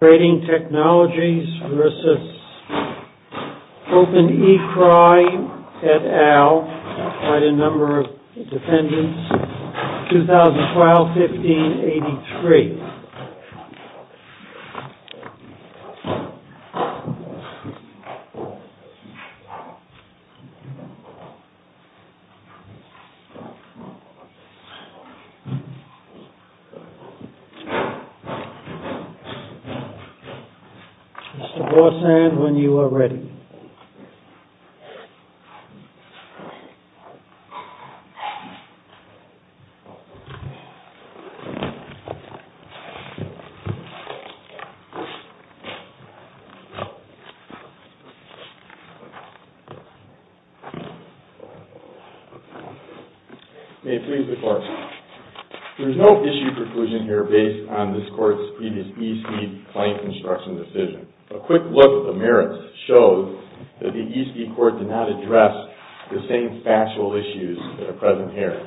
TRADING TECH INTL v. OPEN E CRY, LLC 2012-15-83 Mr. Bossan, when you are ready. May it please the court. There is no issue preclusion here based on this court's previous E.C. claim construction decision. A quick look at the merits shows that the E.C. court did not address the same factual issues that are present here.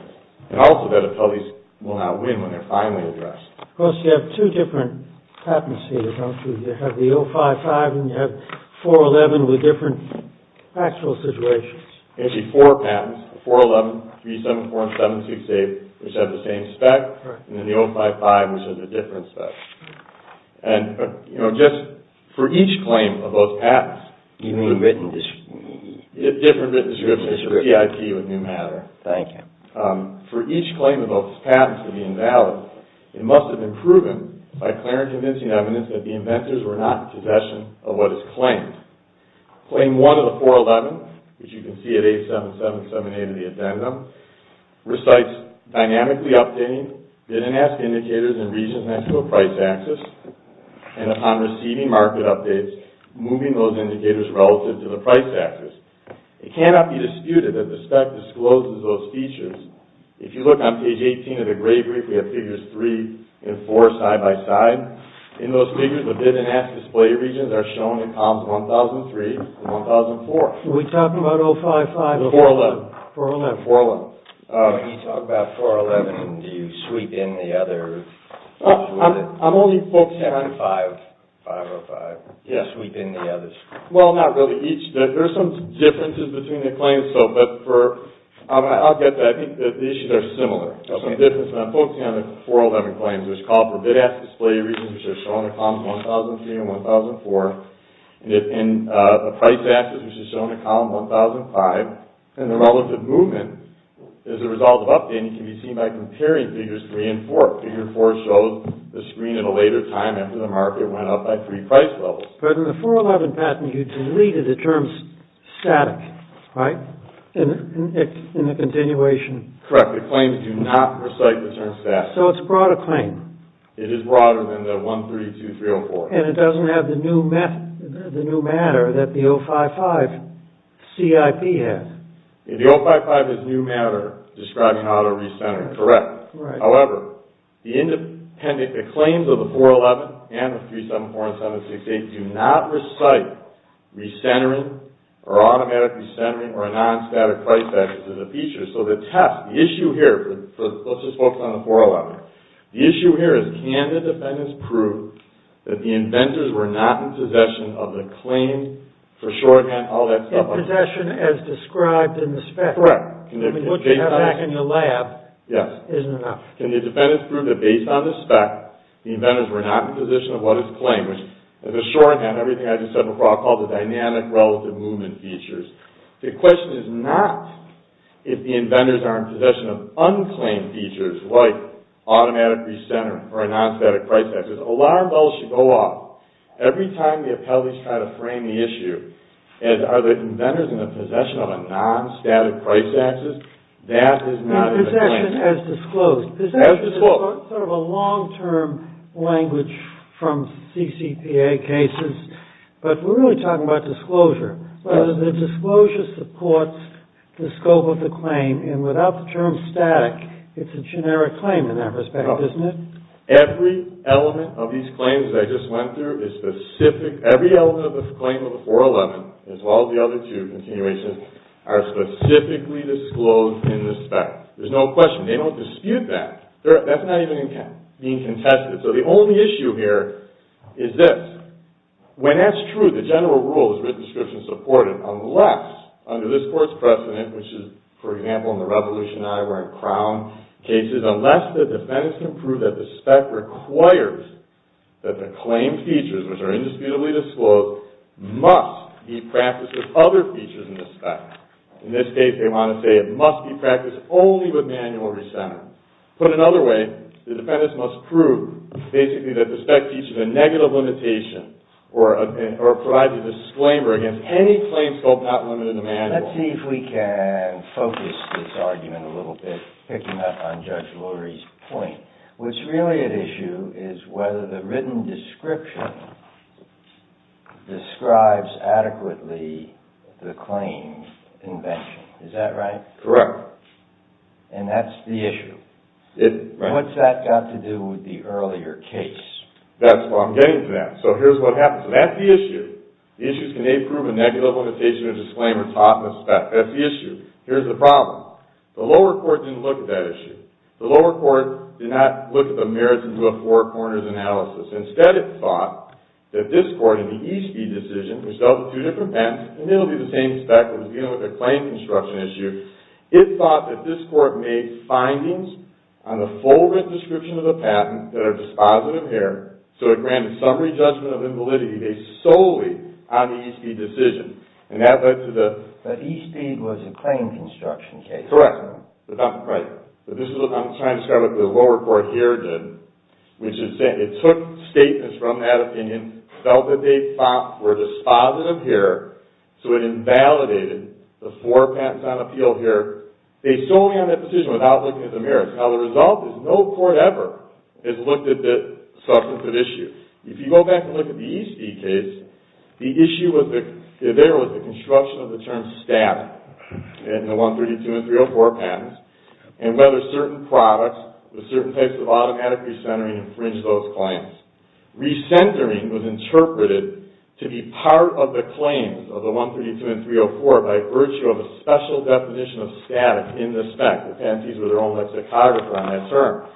And also that appellees will not win when they are finally addressed. Of course, you have two different patents here, don't you? You have the 055 and you have 411 with different factual situations. Actually, four patents. The 411, 374 and 768, which have the same spec. And then the 055, which has a different spec. And, you know, just for each claim of those patents... You mean written description? Different written descriptions of PIP with new matter. Thank you. For each claim of those patents to be invalid, it must have been proven by clear and convincing evidence that the inventors were not in possession of what is claimed. Claim 1 of the 411, which you can see at 8777A of the addendum, recites dynamically updating bid and ask indicators in regions next to a price axis and upon receiving market updates, moving those indicators relative to the price axis. It cannot be disputed that the spec discloses those features. If you look on page 18 of the grade brief, we have figures 3 and 4 side by side. In those figures, the bid and ask display regions are shown in columns 1003 and 1004. Are we talking about 055? The 411. 411. 411. When you talk about 411, do you sweep in the others? I'm only focused on 505. Do you sweep in the others? Well, not really. There are some differences between the claims. I'll get to that. I think the issues are similar. I'm focusing on the 411 claims. There's call for bid ask display regions, which are shown in columns 1003 and 1004, and the price axis, which is shown in column 1005, and the relative movement is a result of updating can be seen by comparing figures 3 and 4. Figure 4 shows the screen at a later time after the market went up by three price levels. But in the 411 patent, you deleted the terms static, right, in the continuation. Correct. The claims do not recite the term static. So it's a broader claim. It is broader than the 132.304. And it doesn't have the new matter that the 055 CIP has. The 055 is new matter describing how to recenter. Correct. However, the claims of the 411 and the 374 and 768 do not recite recentering or automatic recentering or a non-static price axis as a feature. So the test, the issue here, let's just focus on the 411. The issue here is can the defendants prove that the inventors were not in possession of the claim for shorthand, all that stuff. In possession as described in the spec. Correct. What you have back in your lab isn't enough. Yes. Can the defendants prove that based on the spec, the inventors were not in possession of what is claimed, which as a shorthand, everything I just said before, I'll call the dynamic relative movement features. The question is not if the inventors are in possession of unclaimed features like automatic recentering or a non-static price axis. Alarm bells should go off every time the appellees try to frame the issue And are the inventors in the possession of a non-static price axis? That is not in the claim. In possession as disclosed. As disclosed. Possession is sort of a long-term language from CCPA cases, but we're really talking about disclosure. The disclosure supports the scope of the claim, and without the term static, it's a generic claim in that respect, isn't it? Every element of these claims that I just went through is specific. Every element of the claim of the 411, as well as the other two continuations, are specifically disclosed in the spec. There's no question. They don't dispute that. That's not even being contested. So the only issue here is this. When that's true, the general rule is written description supported, unless under this Court's precedent, which is, for example, in the Revolution I, or in Crown cases, unless the defendants can prove that the spec requires that the claim features, which are indisputably disclosed, must be practiced with other features in the spec. In this case, they want to say it must be practiced only with manual recenter. Put another way, the defendants must prove, basically, that the spec features a negative limitation, or provide the disclaimer against any claim scope not limited to manual. Let's see if we can focus this argument a little bit, picking up on Judge Lurie's point. What's really at issue is whether the written description describes adequately the claim invention. Is that right? Correct. And that's the issue. What's that got to do with the earlier case? That's what I'm getting to now. So here's what happens. And that's the issue. The issue is, can they prove a negative limitation or disclaimer taught in the spec? That's the issue. Here's the problem. The lower court didn't look at that issue. The lower court did not look at the merits into a four corners analysis. Instead, it thought that this Court, in the Eastby decision, which dealt with two different patents, and it'll be the same spec that was dealing with the claim construction issue, it thought that this Court made findings on the full written description of the patent that are dispositive here, so it granted summary judgment of invalidity based solely on the Eastby decision. And that led to the... But Eastby was a claim construction case. Correct. But this is what I'm trying to describe what the lower court here did, which is that it took statements from that opinion, felt that they were dispositive here, so it invalidated the four patents on appeal here, based solely on that decision, without looking at the merits. Now, the result is no court ever has looked at this substantive issue. If you go back and look at the Eastby case, the issue there was the construction of the term static in the 132 and 304 patents and whether certain products with certain types of automatic recentering infringed those claims. Recentering was interpreted to be part of the claims of the 132 and 304 by virtue of a special definition of static in the spec. The patentees were their own lexicographer on that term.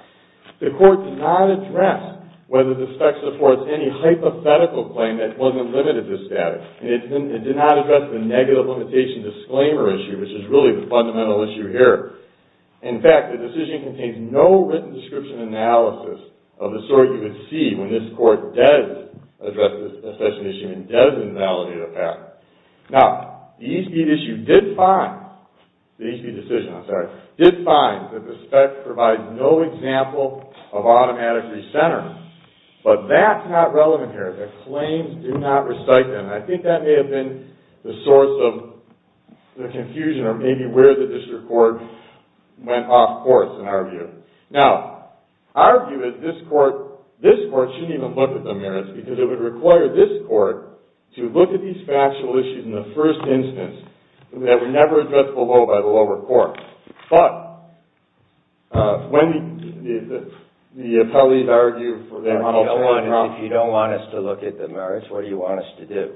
The court did not address whether the spec supports any hypothetical claim that wasn't limited to static. It did not address the negative limitation disclaimer issue, which is really the fundamental issue here. In fact, the decision contains no written description analysis of the sort you would see when this court does address this special issue and does invalidate a patent. Now, the Eastby decision did find that the spec provides no example of automatic recentering, but that's not relevant here. The claims do not recite them. I think that may have been the source of the confusion or maybe where the district court went off course, in our view. Now, our view is this court shouldn't even look at the merits because it would require this court to look at these factual issues in the first instance that were never addressed below by the lower court. But when the appellees argue for their own alternative grounds... If you don't want us to look at the merits, what do you want us to do?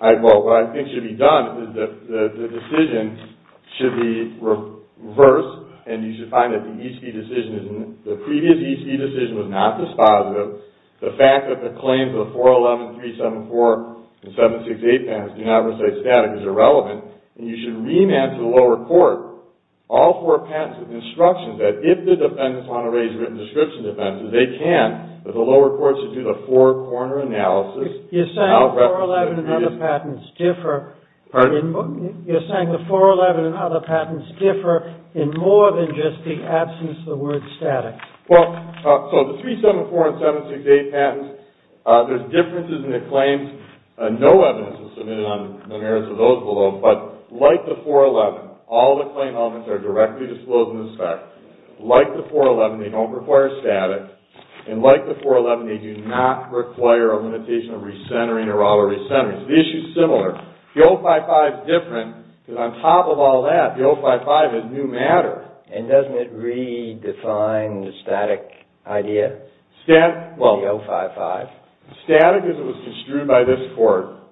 Well, what I think should be done is that the decision should be reversed and you should find that the previous Eastby decision was not dispositive. The fact that the claims of the 411, 374, and 768 patents do not recite static is irrelevant and you should remand to the lower court all four patents with instructions that if the defendants want to raise written description defenses, they can. But the lower court should do the four-corner analysis... You're saying the 411 and other patents differ in more than just the absence of the word static. Well, so the 374 and 768 patents, there's differences in the claims. No evidence is submitted on the merits of those below, but like the 411, all the claim elements are directly disclosed in this fact. Like the 411, they don't require static. And like the 411, they do not require a limitation of recentering or auto-recentering. The issue is similar. The 055 is different because on top of all that, the 055 is new matter. And doesn't it redefine the static idea, the 055? Well, static as it was construed by this court...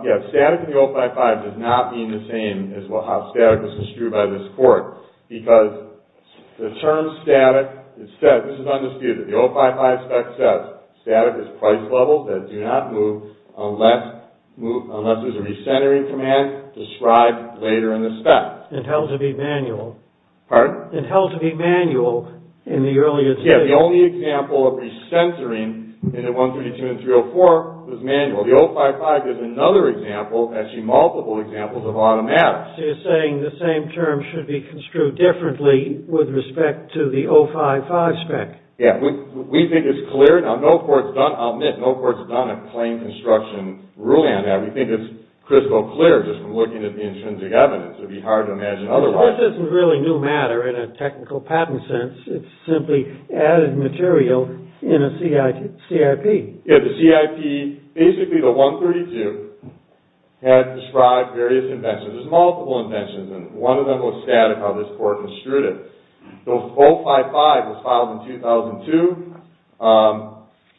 Yes, static and the 055 does not mean the same as how static was construed by this court because the term static is said... This is undisputed. The 055 spec says static is price levels that do not move unless there's a recentering command described later in the spec. It held to be manual. Pardon? It held to be manual in the earlier... Yeah, the only example of recentering in the 132 and 304 was manual. The 055 is another example, actually multiple examples of automatic. So you're saying the same term should be construed differently with respect to the 055 spec. Yeah, we think it's clear. Now, no court's done, I'll admit, no court's done a claim construction ruling on that. We think it's crystal clear just from looking at the intrinsic evidence. It would be hard to imagine otherwise. This isn't really new matter in a technical patent sense. It's simply added material in a CIP. Yeah, the CIP, basically the 132, had described various inventions. There's multiple inventions, and one of them was static, how this court construed it. The 055 was filed in 2002,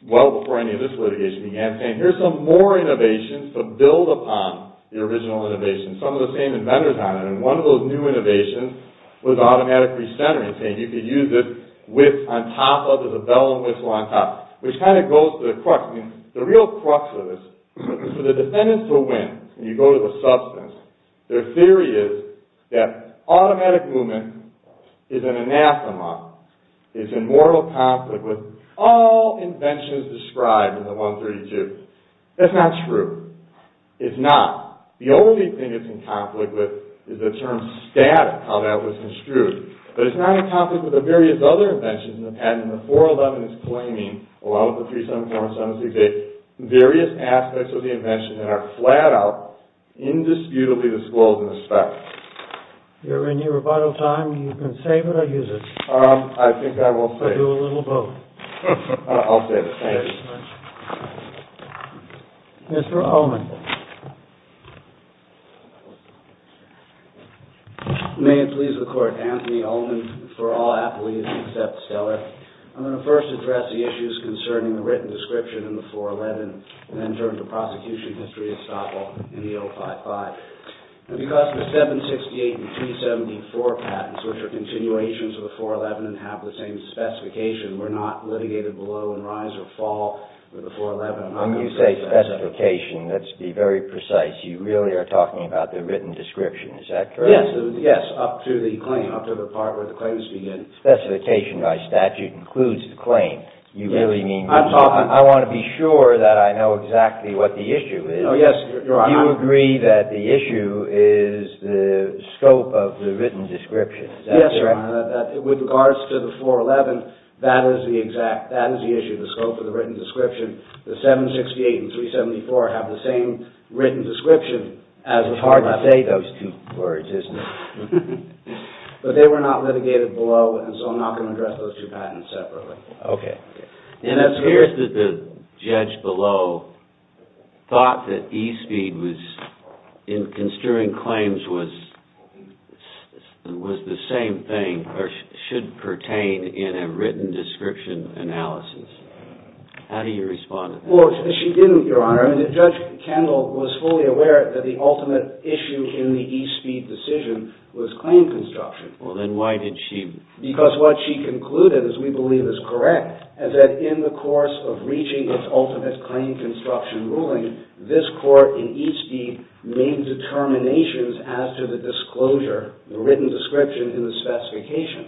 well before any of this litigation began, saying here's some more innovations to build upon the original innovation. Some of the same inventors on it, and one of those new innovations was automatic recentering, saying you could use this width on top of, there's a bell and whistle on top, which kind of goes to the crux, the real crux of this. For the defendants to win, and you go to the substance, their theory is that automatic movement is an anathema, is in mortal conflict with all inventions described in the 132. That's not true. It's not. The only thing it's in conflict with is the term static, how that was construed. But it's not in conflict with the various other inventions in the patent, and the 411 is claiming, along with the 374 and 768, various aspects of the invention that are flat out, indisputably disclosed in the spec. Is there any rebuttal time? You can save it or use it. I think I will save it. Or do a little vote. I'll save it. Thank you. Mr. Ullman. May it please the Court. Anthony Ullman for all affiliates except Stellar. I'm going to first address the issues concerning the written description in the 411, and then turn to prosecution history at Staple in the 055. Because the 768 and 374 patents, which are continuations of the 411 and have the same specification, were not litigated below in rise or fall with the 411. When you say specification, let's be very precise. You really are talking about the written description. Is that correct? Yes, up to the claim, up to the part where the claims begin. Specification by statute includes the claim. I want to be sure that I know exactly what the issue is. Do you agree that the issue is the scope of the written description? With regards to the 411, that is the issue, the scope of the written description. The 768 and 374 have the same written description. It's hard to say those two words, isn't it? But they were not litigated below, and so I'm not going to address those two patents separately. Okay. It appears that the judge below thought that e-speed, in construing claims, was the same thing or should pertain in a written description analysis. How do you respond to that? She didn't, Your Honor. Judge Kendall was fully aware that the ultimate issue in the e-speed decision was claim construction. Then why did she... Because what she concluded, as we believe is correct, is that in the course of reaching its ultimate claim construction ruling, this court in e-speed made determinations as to the disclosure, the written description in the specification.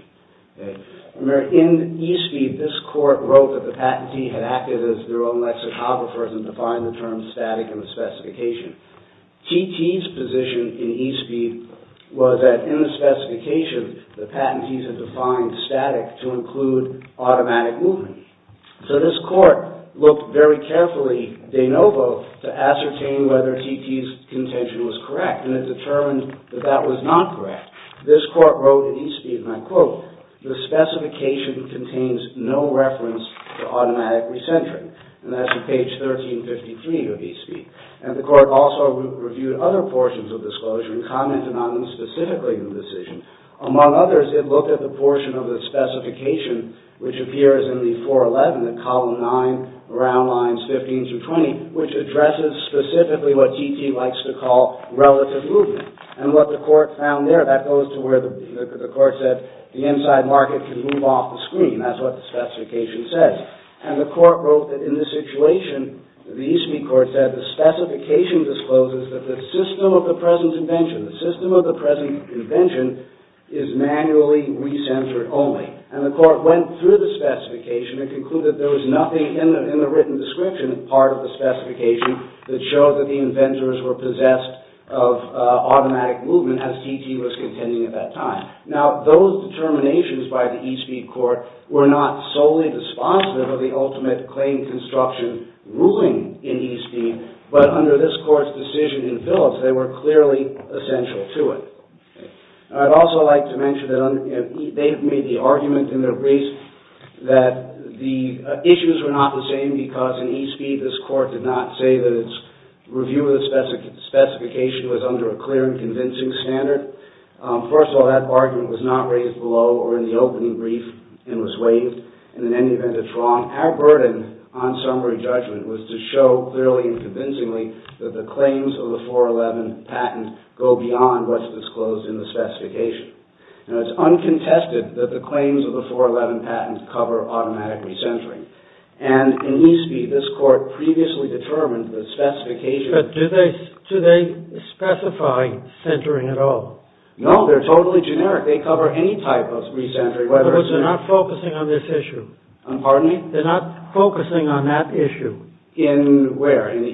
In e-speed, this court wrote that the patentee had acted as their own lexicographers and defined the term static in the specification. TT's position in e-speed was that in the specification, the patentees had defined static to include automatic movement. So this court looked very carefully, de novo, to ascertain whether TT's contention was correct, and it determined that that was not correct. This court wrote in e-speed, and I quote, the specification contains no reference to automatic recentering. And that's on page 1353 of e-speed. And the court also reviewed other portions of disclosure and commented on them specifically in the decision. Among others, it looked at the portion of the specification, which appears in the 411, in column 9, around lines 15 through 20, which addresses specifically what TT likes to call relative movement. And what the court found there, that goes to where the court said the inside market can move off the screen. That's what the specification says. And the court wrote that in this situation, the e-speed court said, that the specification discloses that the system of the present invention, the system of the present invention, is manually recentered only. And the court went through the specification and concluded there was nothing in the written description of part of the specification that showed that the inventors were possessed of automatic movement, as TT was contending at that time. Now, those determinations by the e-speed court were not solely dispositive of the ultimate claim construction ruling in e-speed, but under this court's decision in Phillips, they were clearly essential to it. I'd also like to mention that they've made the argument in their brief that the issues were not the same because in e-speed, this court did not say that its review of the specification was under a clear and convincing standard. First of all, that argument was not raised below or in the opening brief and was waived. And in any event, it's wrong. Our burden on summary judgment was to show clearly and convincingly that the claims of the 411 patent go beyond what's disclosed in the specification. And it's uncontested that the claims of the 411 patent cover automatic recentering. And in e-speed, this court previously determined the specification... But do they specify centering at all? No, they're totally generic. They cover any type of recentering, whether it's... In other words, they're not focusing on this issue. Pardon me? They're not focusing on that issue. In where? In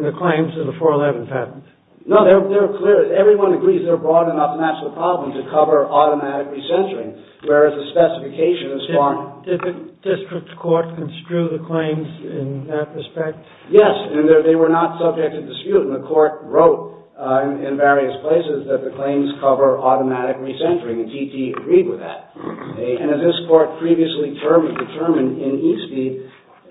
the claims of the 411 patent. No, they're clear. Everyone agrees they're broad enough and that's the problem to cover automatic recentering, whereas the specification is far... Did the district court construe the claims in that respect? Yes, and they were not subject to dispute, and the court wrote in various places that the claims cover automatic recentering, and TT agreed with that. And as this court previously determined in e-speed,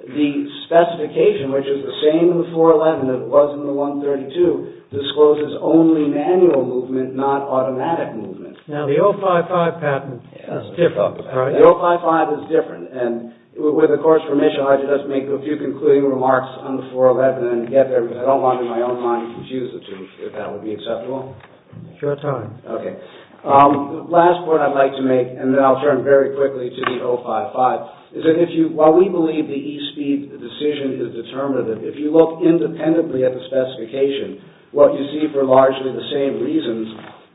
the specification, which is the same in the 411 as it was in the 132, discloses only manual movement, not automatic movement. Now, the 055 patent is different, right? The 055 is different. And with the court's permission, I'd like to just make a few concluding remarks on the 411 and get there, because I don't want, in my own mind, to confuse the two, if that would be acceptable. Sure time. Okay. Last point I'd like to make, and then I'll turn very quickly to the 055, is that while we believe the e-speed decision is determinative, if you look independently at the specification, what you see for largely the same reasons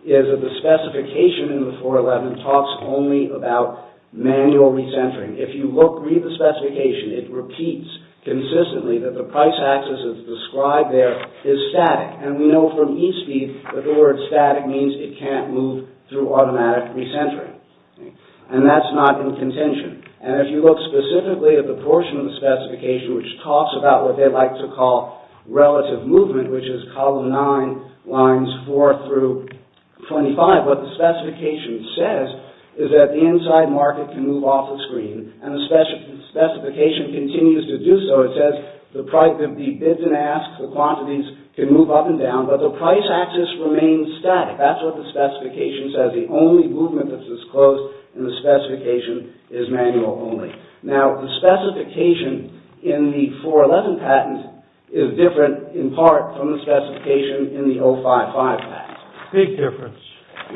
is that the specification in the 411 talks only about manual recentering. If you read the specification, it repeats consistently that the price axis as described there is static. And we know from e-speed that the word static means it can't move through automatic recentering. And that's not in contention. And if you look specifically at the portion of the specification which talks about what they like to call relative movement, which is column 9, lines 4 through 25, what the specification says is that the inside market can move off the screen, and the specification continues to do so. It says the bids and asks, the quantities, can move up and down, but the price axis remains static. That's what the specification says. The only movement that's disclosed in the specification is manual only. Now, the specification in the 411 patent is different in part from the specification in the 055 patent. Big difference.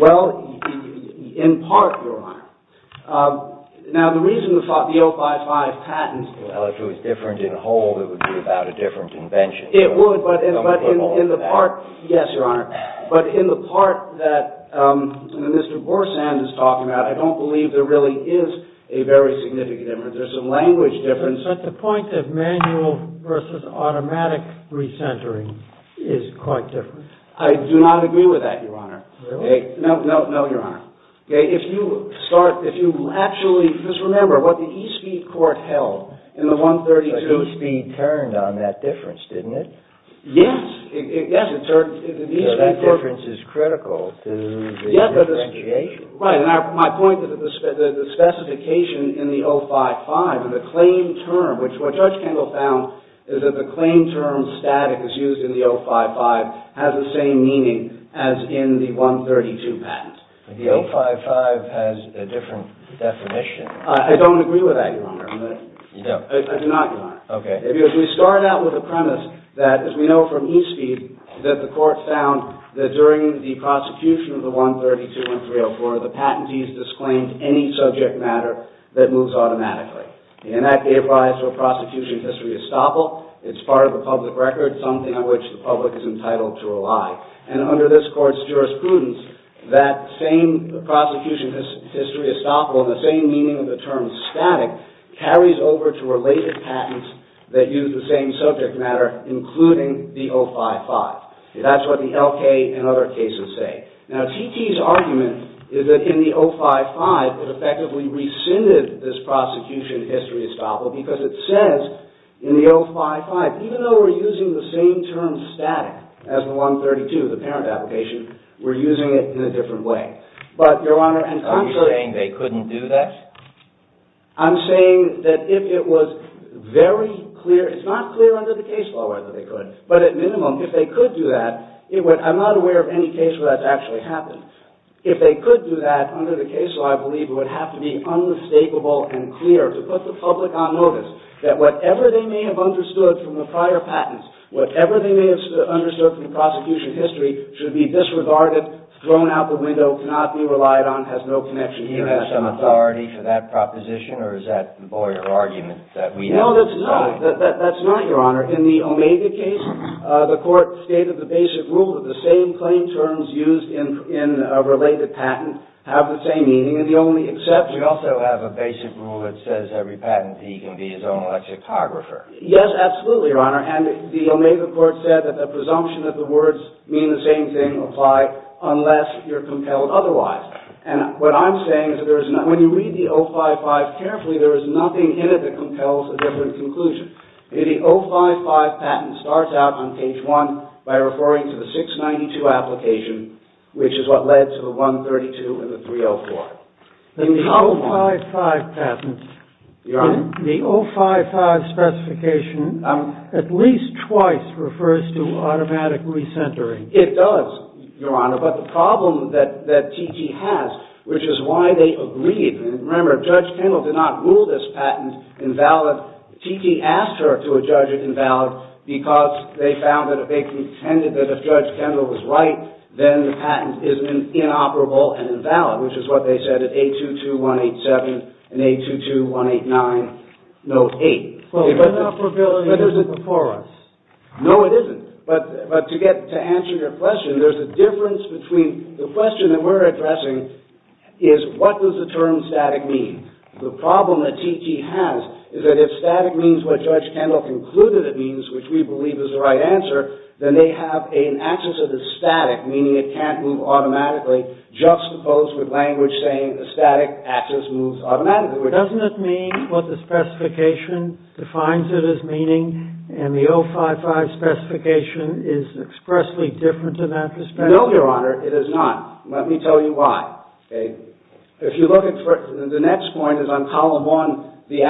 Well, in part, Your Honor. Now, the reason the 055 patent... Well, if it was different in whole, it would be about a different invention. It would, but in the part... Yes, Your Honor. But in the part that Mr. Gorsan is talking about, I don't believe there really is a very significant difference. There's a language difference. But the point of manual versus automatic re-centering is quite different. I do not agree with that, Your Honor. Really? No, Your Honor. If you start, if you actually... Just remember what the e-speed court held in the 132... The e-speed turned on that difference, didn't it? Yes. Yes, it turned... So that difference is critical to the differentiation. Right, and my point is that the specification in the 055, the claim term, which what Judge Kendall found is that the claim term static is used in the 055 has the same meaning as in the 132 patent. The 055 has a different definition. I don't agree with that, Your Honor. No. I do not, Your Honor. Okay. Because we start out with a premise that, as we know from e-speed, that the court found that during the prosecution of the 132 and 304, the patentees disclaimed any subject matter that moves automatically. And that gave rise to a prosecution history estoppel. It's part of the public record, something on which the public is entitled to rely. And under this court's jurisprudence, that same prosecution history estoppel and the same meaning of the term static carries over to related patents that use the same subject matter, including the 055. That's what the L.K. and other cases say. Now, T.T.'s argument is that in the 055, it effectively rescinded this prosecution history estoppel because it says in the 055, even though we're using the same term static as the 132, the parent application, we're using it in a different way. But, Your Honor... Are you saying they couldn't do that? I'm saying that if it was very clear... It's not clear under the case law whether they could, but at minimum, if they could do that, it would... I'm not aware of any case where that's actually happened. If they could do that under the case law, I believe it would have to be unmistakable and clear to put the public on notice that whatever they may have understood from the prior patents, whatever they may have understood from the prosecution history should be disregarded, thrown out the window, cannot be relied on, has no connection here. Do you have some authority for that proposition, or is that all your argument that we have... No, that's not. That's not, Your Honor. In the OMEGA case, the court stated the basic rule that the same claim terms used in a related patent have the same meaning, and the only exception... We also have a basic rule that says every patentee can be his own lexicographer. Yes, absolutely, Your Honor. And the OMEGA court said that the presumption that the words mean the same thing apply unless you're compelled otherwise. And what I'm saying is that there is no... When you read the 055 carefully, there is nothing in it that compels a different conclusion. The 055 patent starts out on page 1 by referring to the 692 application, which is what led to the 132 and the 304. The 055 patent... Your Honor? The 055 specification at least twice refers to automatic recentering. It does, Your Honor, but the problem that T.T. has, which is why they agreed... Remember, Judge Kendall did not rule this patent invalid. T.T. asked her to adjudge it invalid because they found that they contended that if Judge Kendall was right, then the patent is inoperable and invalid, which is what they said at 822-187 and 822-189, note 8. Well, the inoperability is before us. No, it isn't. But to answer your question, there's a difference between... The question that we're addressing is what does the term static mean? The problem that T.T. has is that if static means what Judge Kendall concluded it means, which we believe is the right answer, then they have an access of the static, meaning it can't move automatically, juxtaposed with language saying a static access moves automatically. Doesn't it mean what the specification defines it as meaning, and the 055 specification is expressly different in that respect? No, Your Honor, it is not. Let me tell you why. If you look at... The next point is on Column 1, the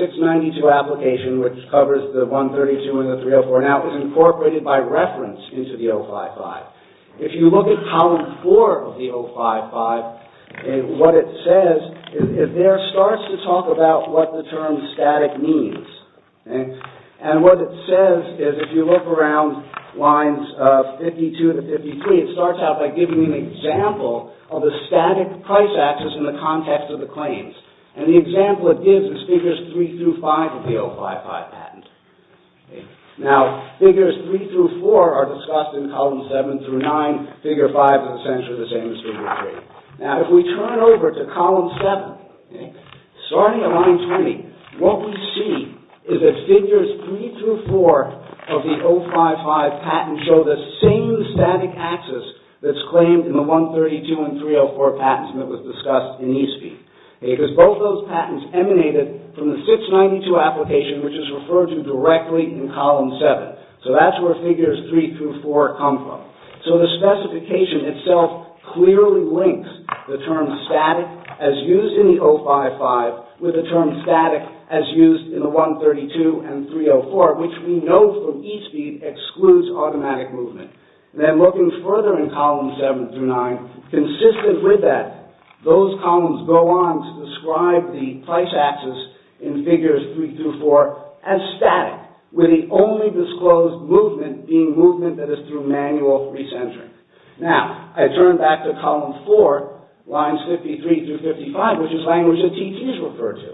692 application, which covers the 132 and the 304, now is incorporated by reference into the 055. If you look at Column 4 of the 055, what it says, there it starts to talk about what the term static means. And what it says is, if you look around lines 52 to 53, it starts out by giving an example of the static price access in the context of the claims. And the example it gives is Figures 3 through 5 of the 055 patent. Now, Figures 3 through 4 are discussed in Columns 7 through 9. Figure 5 is essentially the same as Figure 3. Now, if we turn over to Column 7, starting at Line 20, what we see is that Figures 3 through 4 of the 055 patent show the same static access that's claimed in the 132 and 304 patents that was discussed in ESPE. Because both those patents emanated from the 692 application, which is referred to directly in Column 7. So that's where Figures 3 through 4 come from. So the specification itself clearly links the term static as used in the 055 with the term static as used in the 132 and 304, which we know from ESPE excludes automatic movement. Then looking further in Columns 7 through 9, consistent with that, those columns go on to describe the price access in Figures 3 through 4 as static, with the only disclosed movement being movement that is through manual re-centering. Now, I turn back to Column 4, Lines 53 through 55, which is language that TTs refer to.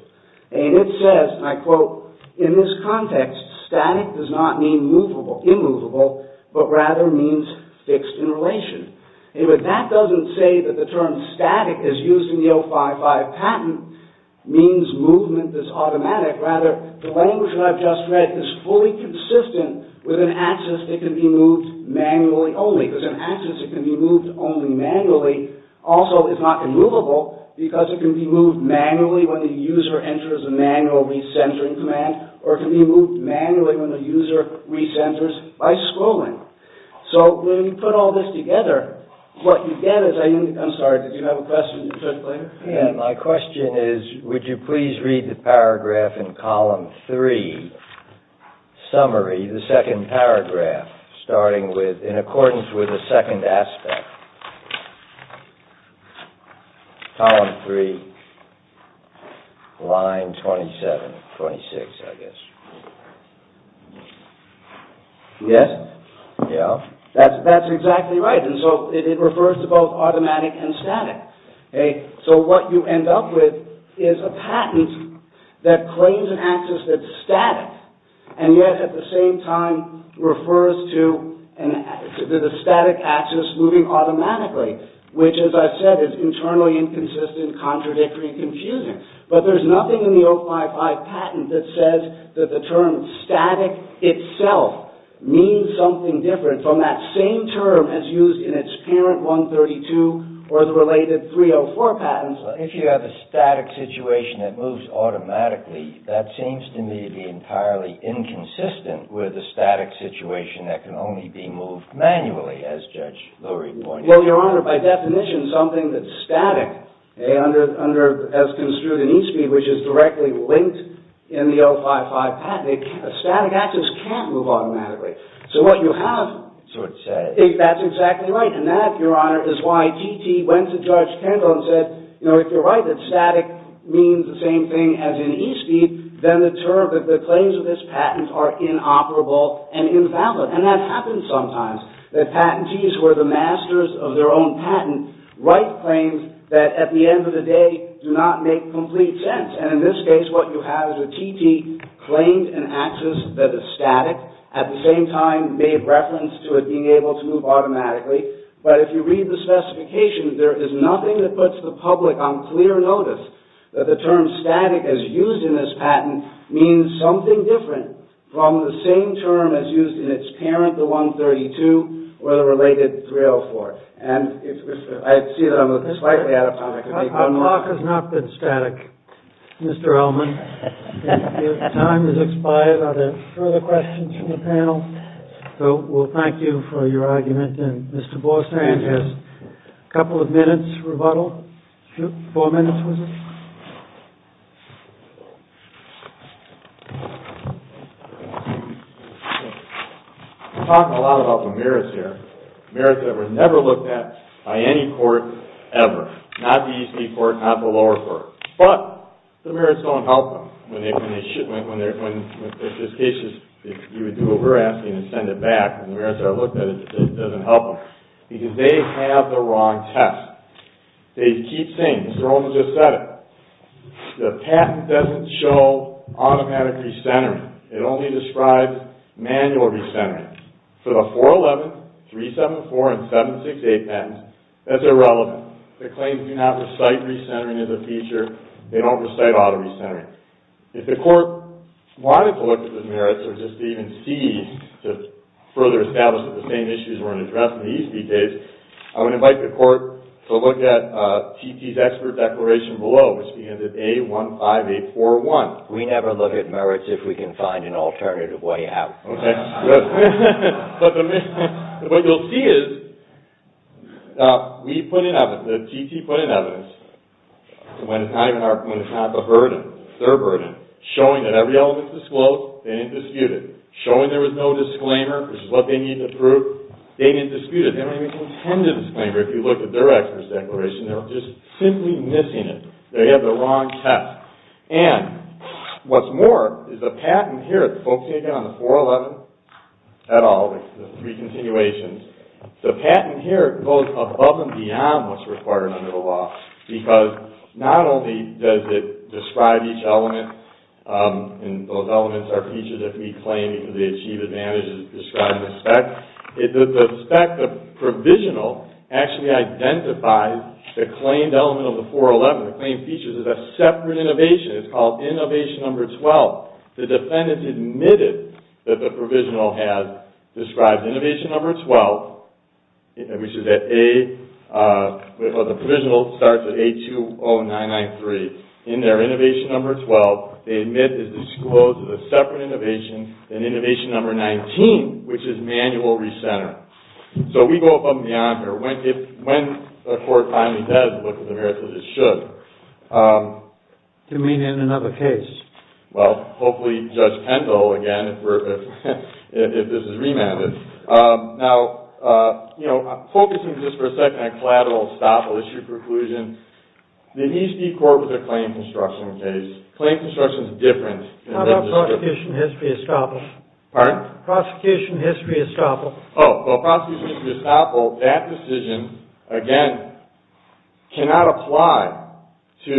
And it says, and I quote, in this context, static does not mean immovable, but rather means fixed in relation. And that doesn't say that the term static as used in the 055 patent means movement that's automatic. Rather, the language that I've just read is fully consistent with an access that can be moved manually only. Because an access that can be moved only manually also is not immovable because it can be moved manually when the user enters the manual re-centering command, or it can be moved manually when the user re-centers by scrolling. So, when you put all this together, what you get is... I'm sorry, did you have a question? My question is, would you please read the paragraph in Column 3, summary, the second paragraph, starting with, in accordance with the second aspect, Column 3, line 27, 26, I guess. Yes? Yeah. That's exactly right. And so, it refers to both automatic and static. So, what you end up with is a patent that claims an access that's static, and yet, at the same time, refers to the static access moving automatically, which, as I said, is internally inconsistent, contradictory, confusing. But there's nothing in the 055 patent that says that the term static itself means something different from that same term as used in its parent 132 or the related 304 patents. If you have a static situation that moves automatically, that seems to me to be entirely inconsistent with a static situation that can only be moved manually, as Judge Lurie pointed out. Well, Your Honor, by definition, something that's static, as construed in e-speed, which is directly linked in the 055 patent, static access can't move automatically. So, what you have... Is what it says. That's exactly right. And that, Your Honor, is why GT went to Judge Kendall and said, you know, if you're right that static means the same thing as in e-speed, then the claims of this patent are inoperable and invalid. And that happens sometimes, that patentees who are the masters of their own patent write claims that at the end of the day do not make complete sense. And in this case, what you have is a TT claimed an access that is static, at the same time made reference to it being able to move automatically. But if you read the specification, there is nothing that puts the public on clear notice that the term static as used in this patent means something different from the same term as used in its parent, the 132, or the related 304. And I see that I'm slightly out of time. Our clock has not been static, Mr. Ellman. Your time has expired. Are there further questions from the panel? So we'll thank you for your argument. And Mr. Borsand has a couple of minutes rebuttal. Four minutes, was it? We're talking a lot about the merits here. Merits that were never looked at by any court ever. Not the EC court, not the lower court. But the merits don't help them. If this case is, if you would do what we're asking and send it back, and the merits are looked at, it doesn't help them. Because they have the wrong test. They keep saying, Mr. Olman just said it, the patent doesn't show automatic recentering. It only describes manual recentering. For the 411, 374, and 768 patents, that's irrelevant. The claims do not recite recentering as a feature. They don't recite auto-recentering. If the court wanted to look at the merits or just even seized to further establish that the same issues weren't addressed in these details, I would invite the court to look at TT's expert declaration below, which begins at A15841. We never look at merits if we can find an alternative way out. Okay. Good. What you'll see is, we put in evidence, the TT put in evidence, when it's not the burden, their burden, showing that every element disclosed, they didn't dispute it. Showing there was no disclaimer, which is what they need to prove, they didn't dispute it. They don't even contend to disclaimer if you look at their expert declaration. They're just simply missing it. They have the wrong test. And, what's more, is the patent here, it's focusing again on the 411, et al., the three continuations. The patent here goes above and beyond what's required under the law because, not only does it describe each element, and those elements are features that can be claimed because they achieve advantages described in the spec, the spec, the provisional, actually identifies the claimed element of the 411. The claimed features is a separate innovation. It's called innovation number 12. The defendants admitted that the provisional has described innovation number 12, which is at A, well, the provisional starts at A20993. In their innovation number 12, they admit it's disclosed as a separate innovation than innovation number 19, which is manual recenter. So, we go above and beyond when the court finally does look at the merits that it should. Do you mean in another case? Well, hopefully, Judge Pendle, again, if this is remanded. Now, you know, I'm focusing just for a second on collateral estoppel, issue preclusion. The NISD court was a claim construction case. Claim construction is different. How about prosecution history estoppel? Pardon? Prosecution history estoppel. Oh, well, prosecution history estoppel, that decision, again, cannot apply to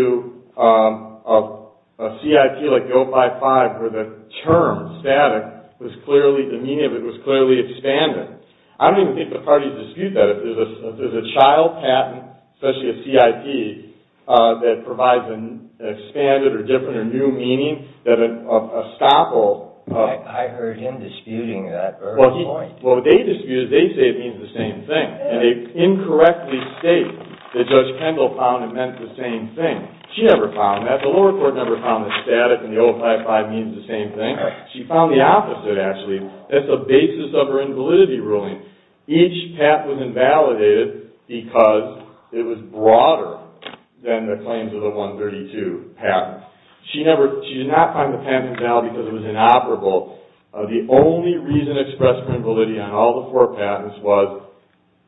a CIT like 055 where the term static was clearly, the meaning of it was clearly expanded. I don't even think the parties dispute that. If there's a child patent, especially a CIT, that provides an expanded or different or new meaning that an estoppel... I heard him disputing that very point. Well, what they dispute is they say it means the same thing. And they incorrectly state that Judge Kendall found it meant the same thing. She never found that. The lower court never found that static and the 055 means the same thing. She found the opposite, actually. That's the basis of her invalidity ruling. Each patent was invalidated because it was broader than the claims of the 132 patents. She did not find the patent invalid because it was inoperable. The only reason expressed for invalidity on all the four patents was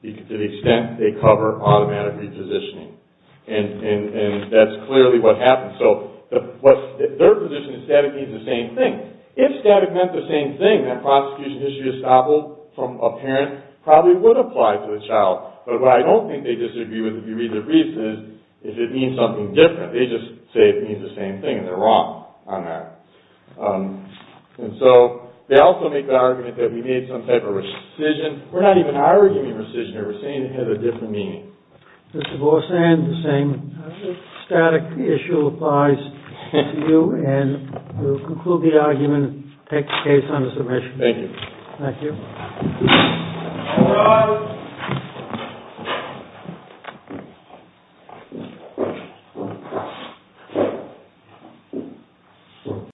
to the extent they cover automatic repositioning. And that's clearly what happens. So their position is static means the same thing. If static meant the same thing, then prosecution history estoppel from a parent probably would apply to a child. But what I don't think they disagree with if you read the briefs is if it means something different. They just say it means the same thing. And they're wrong on that. And so they also make the argument that we need some type of rescission. We're not even arguing rescission here. We're saying it has a different meaning. Mr. Borsan, the same static issue applies to you. And we'll conclude the argument and take the case under submission. Thank you. Thank you.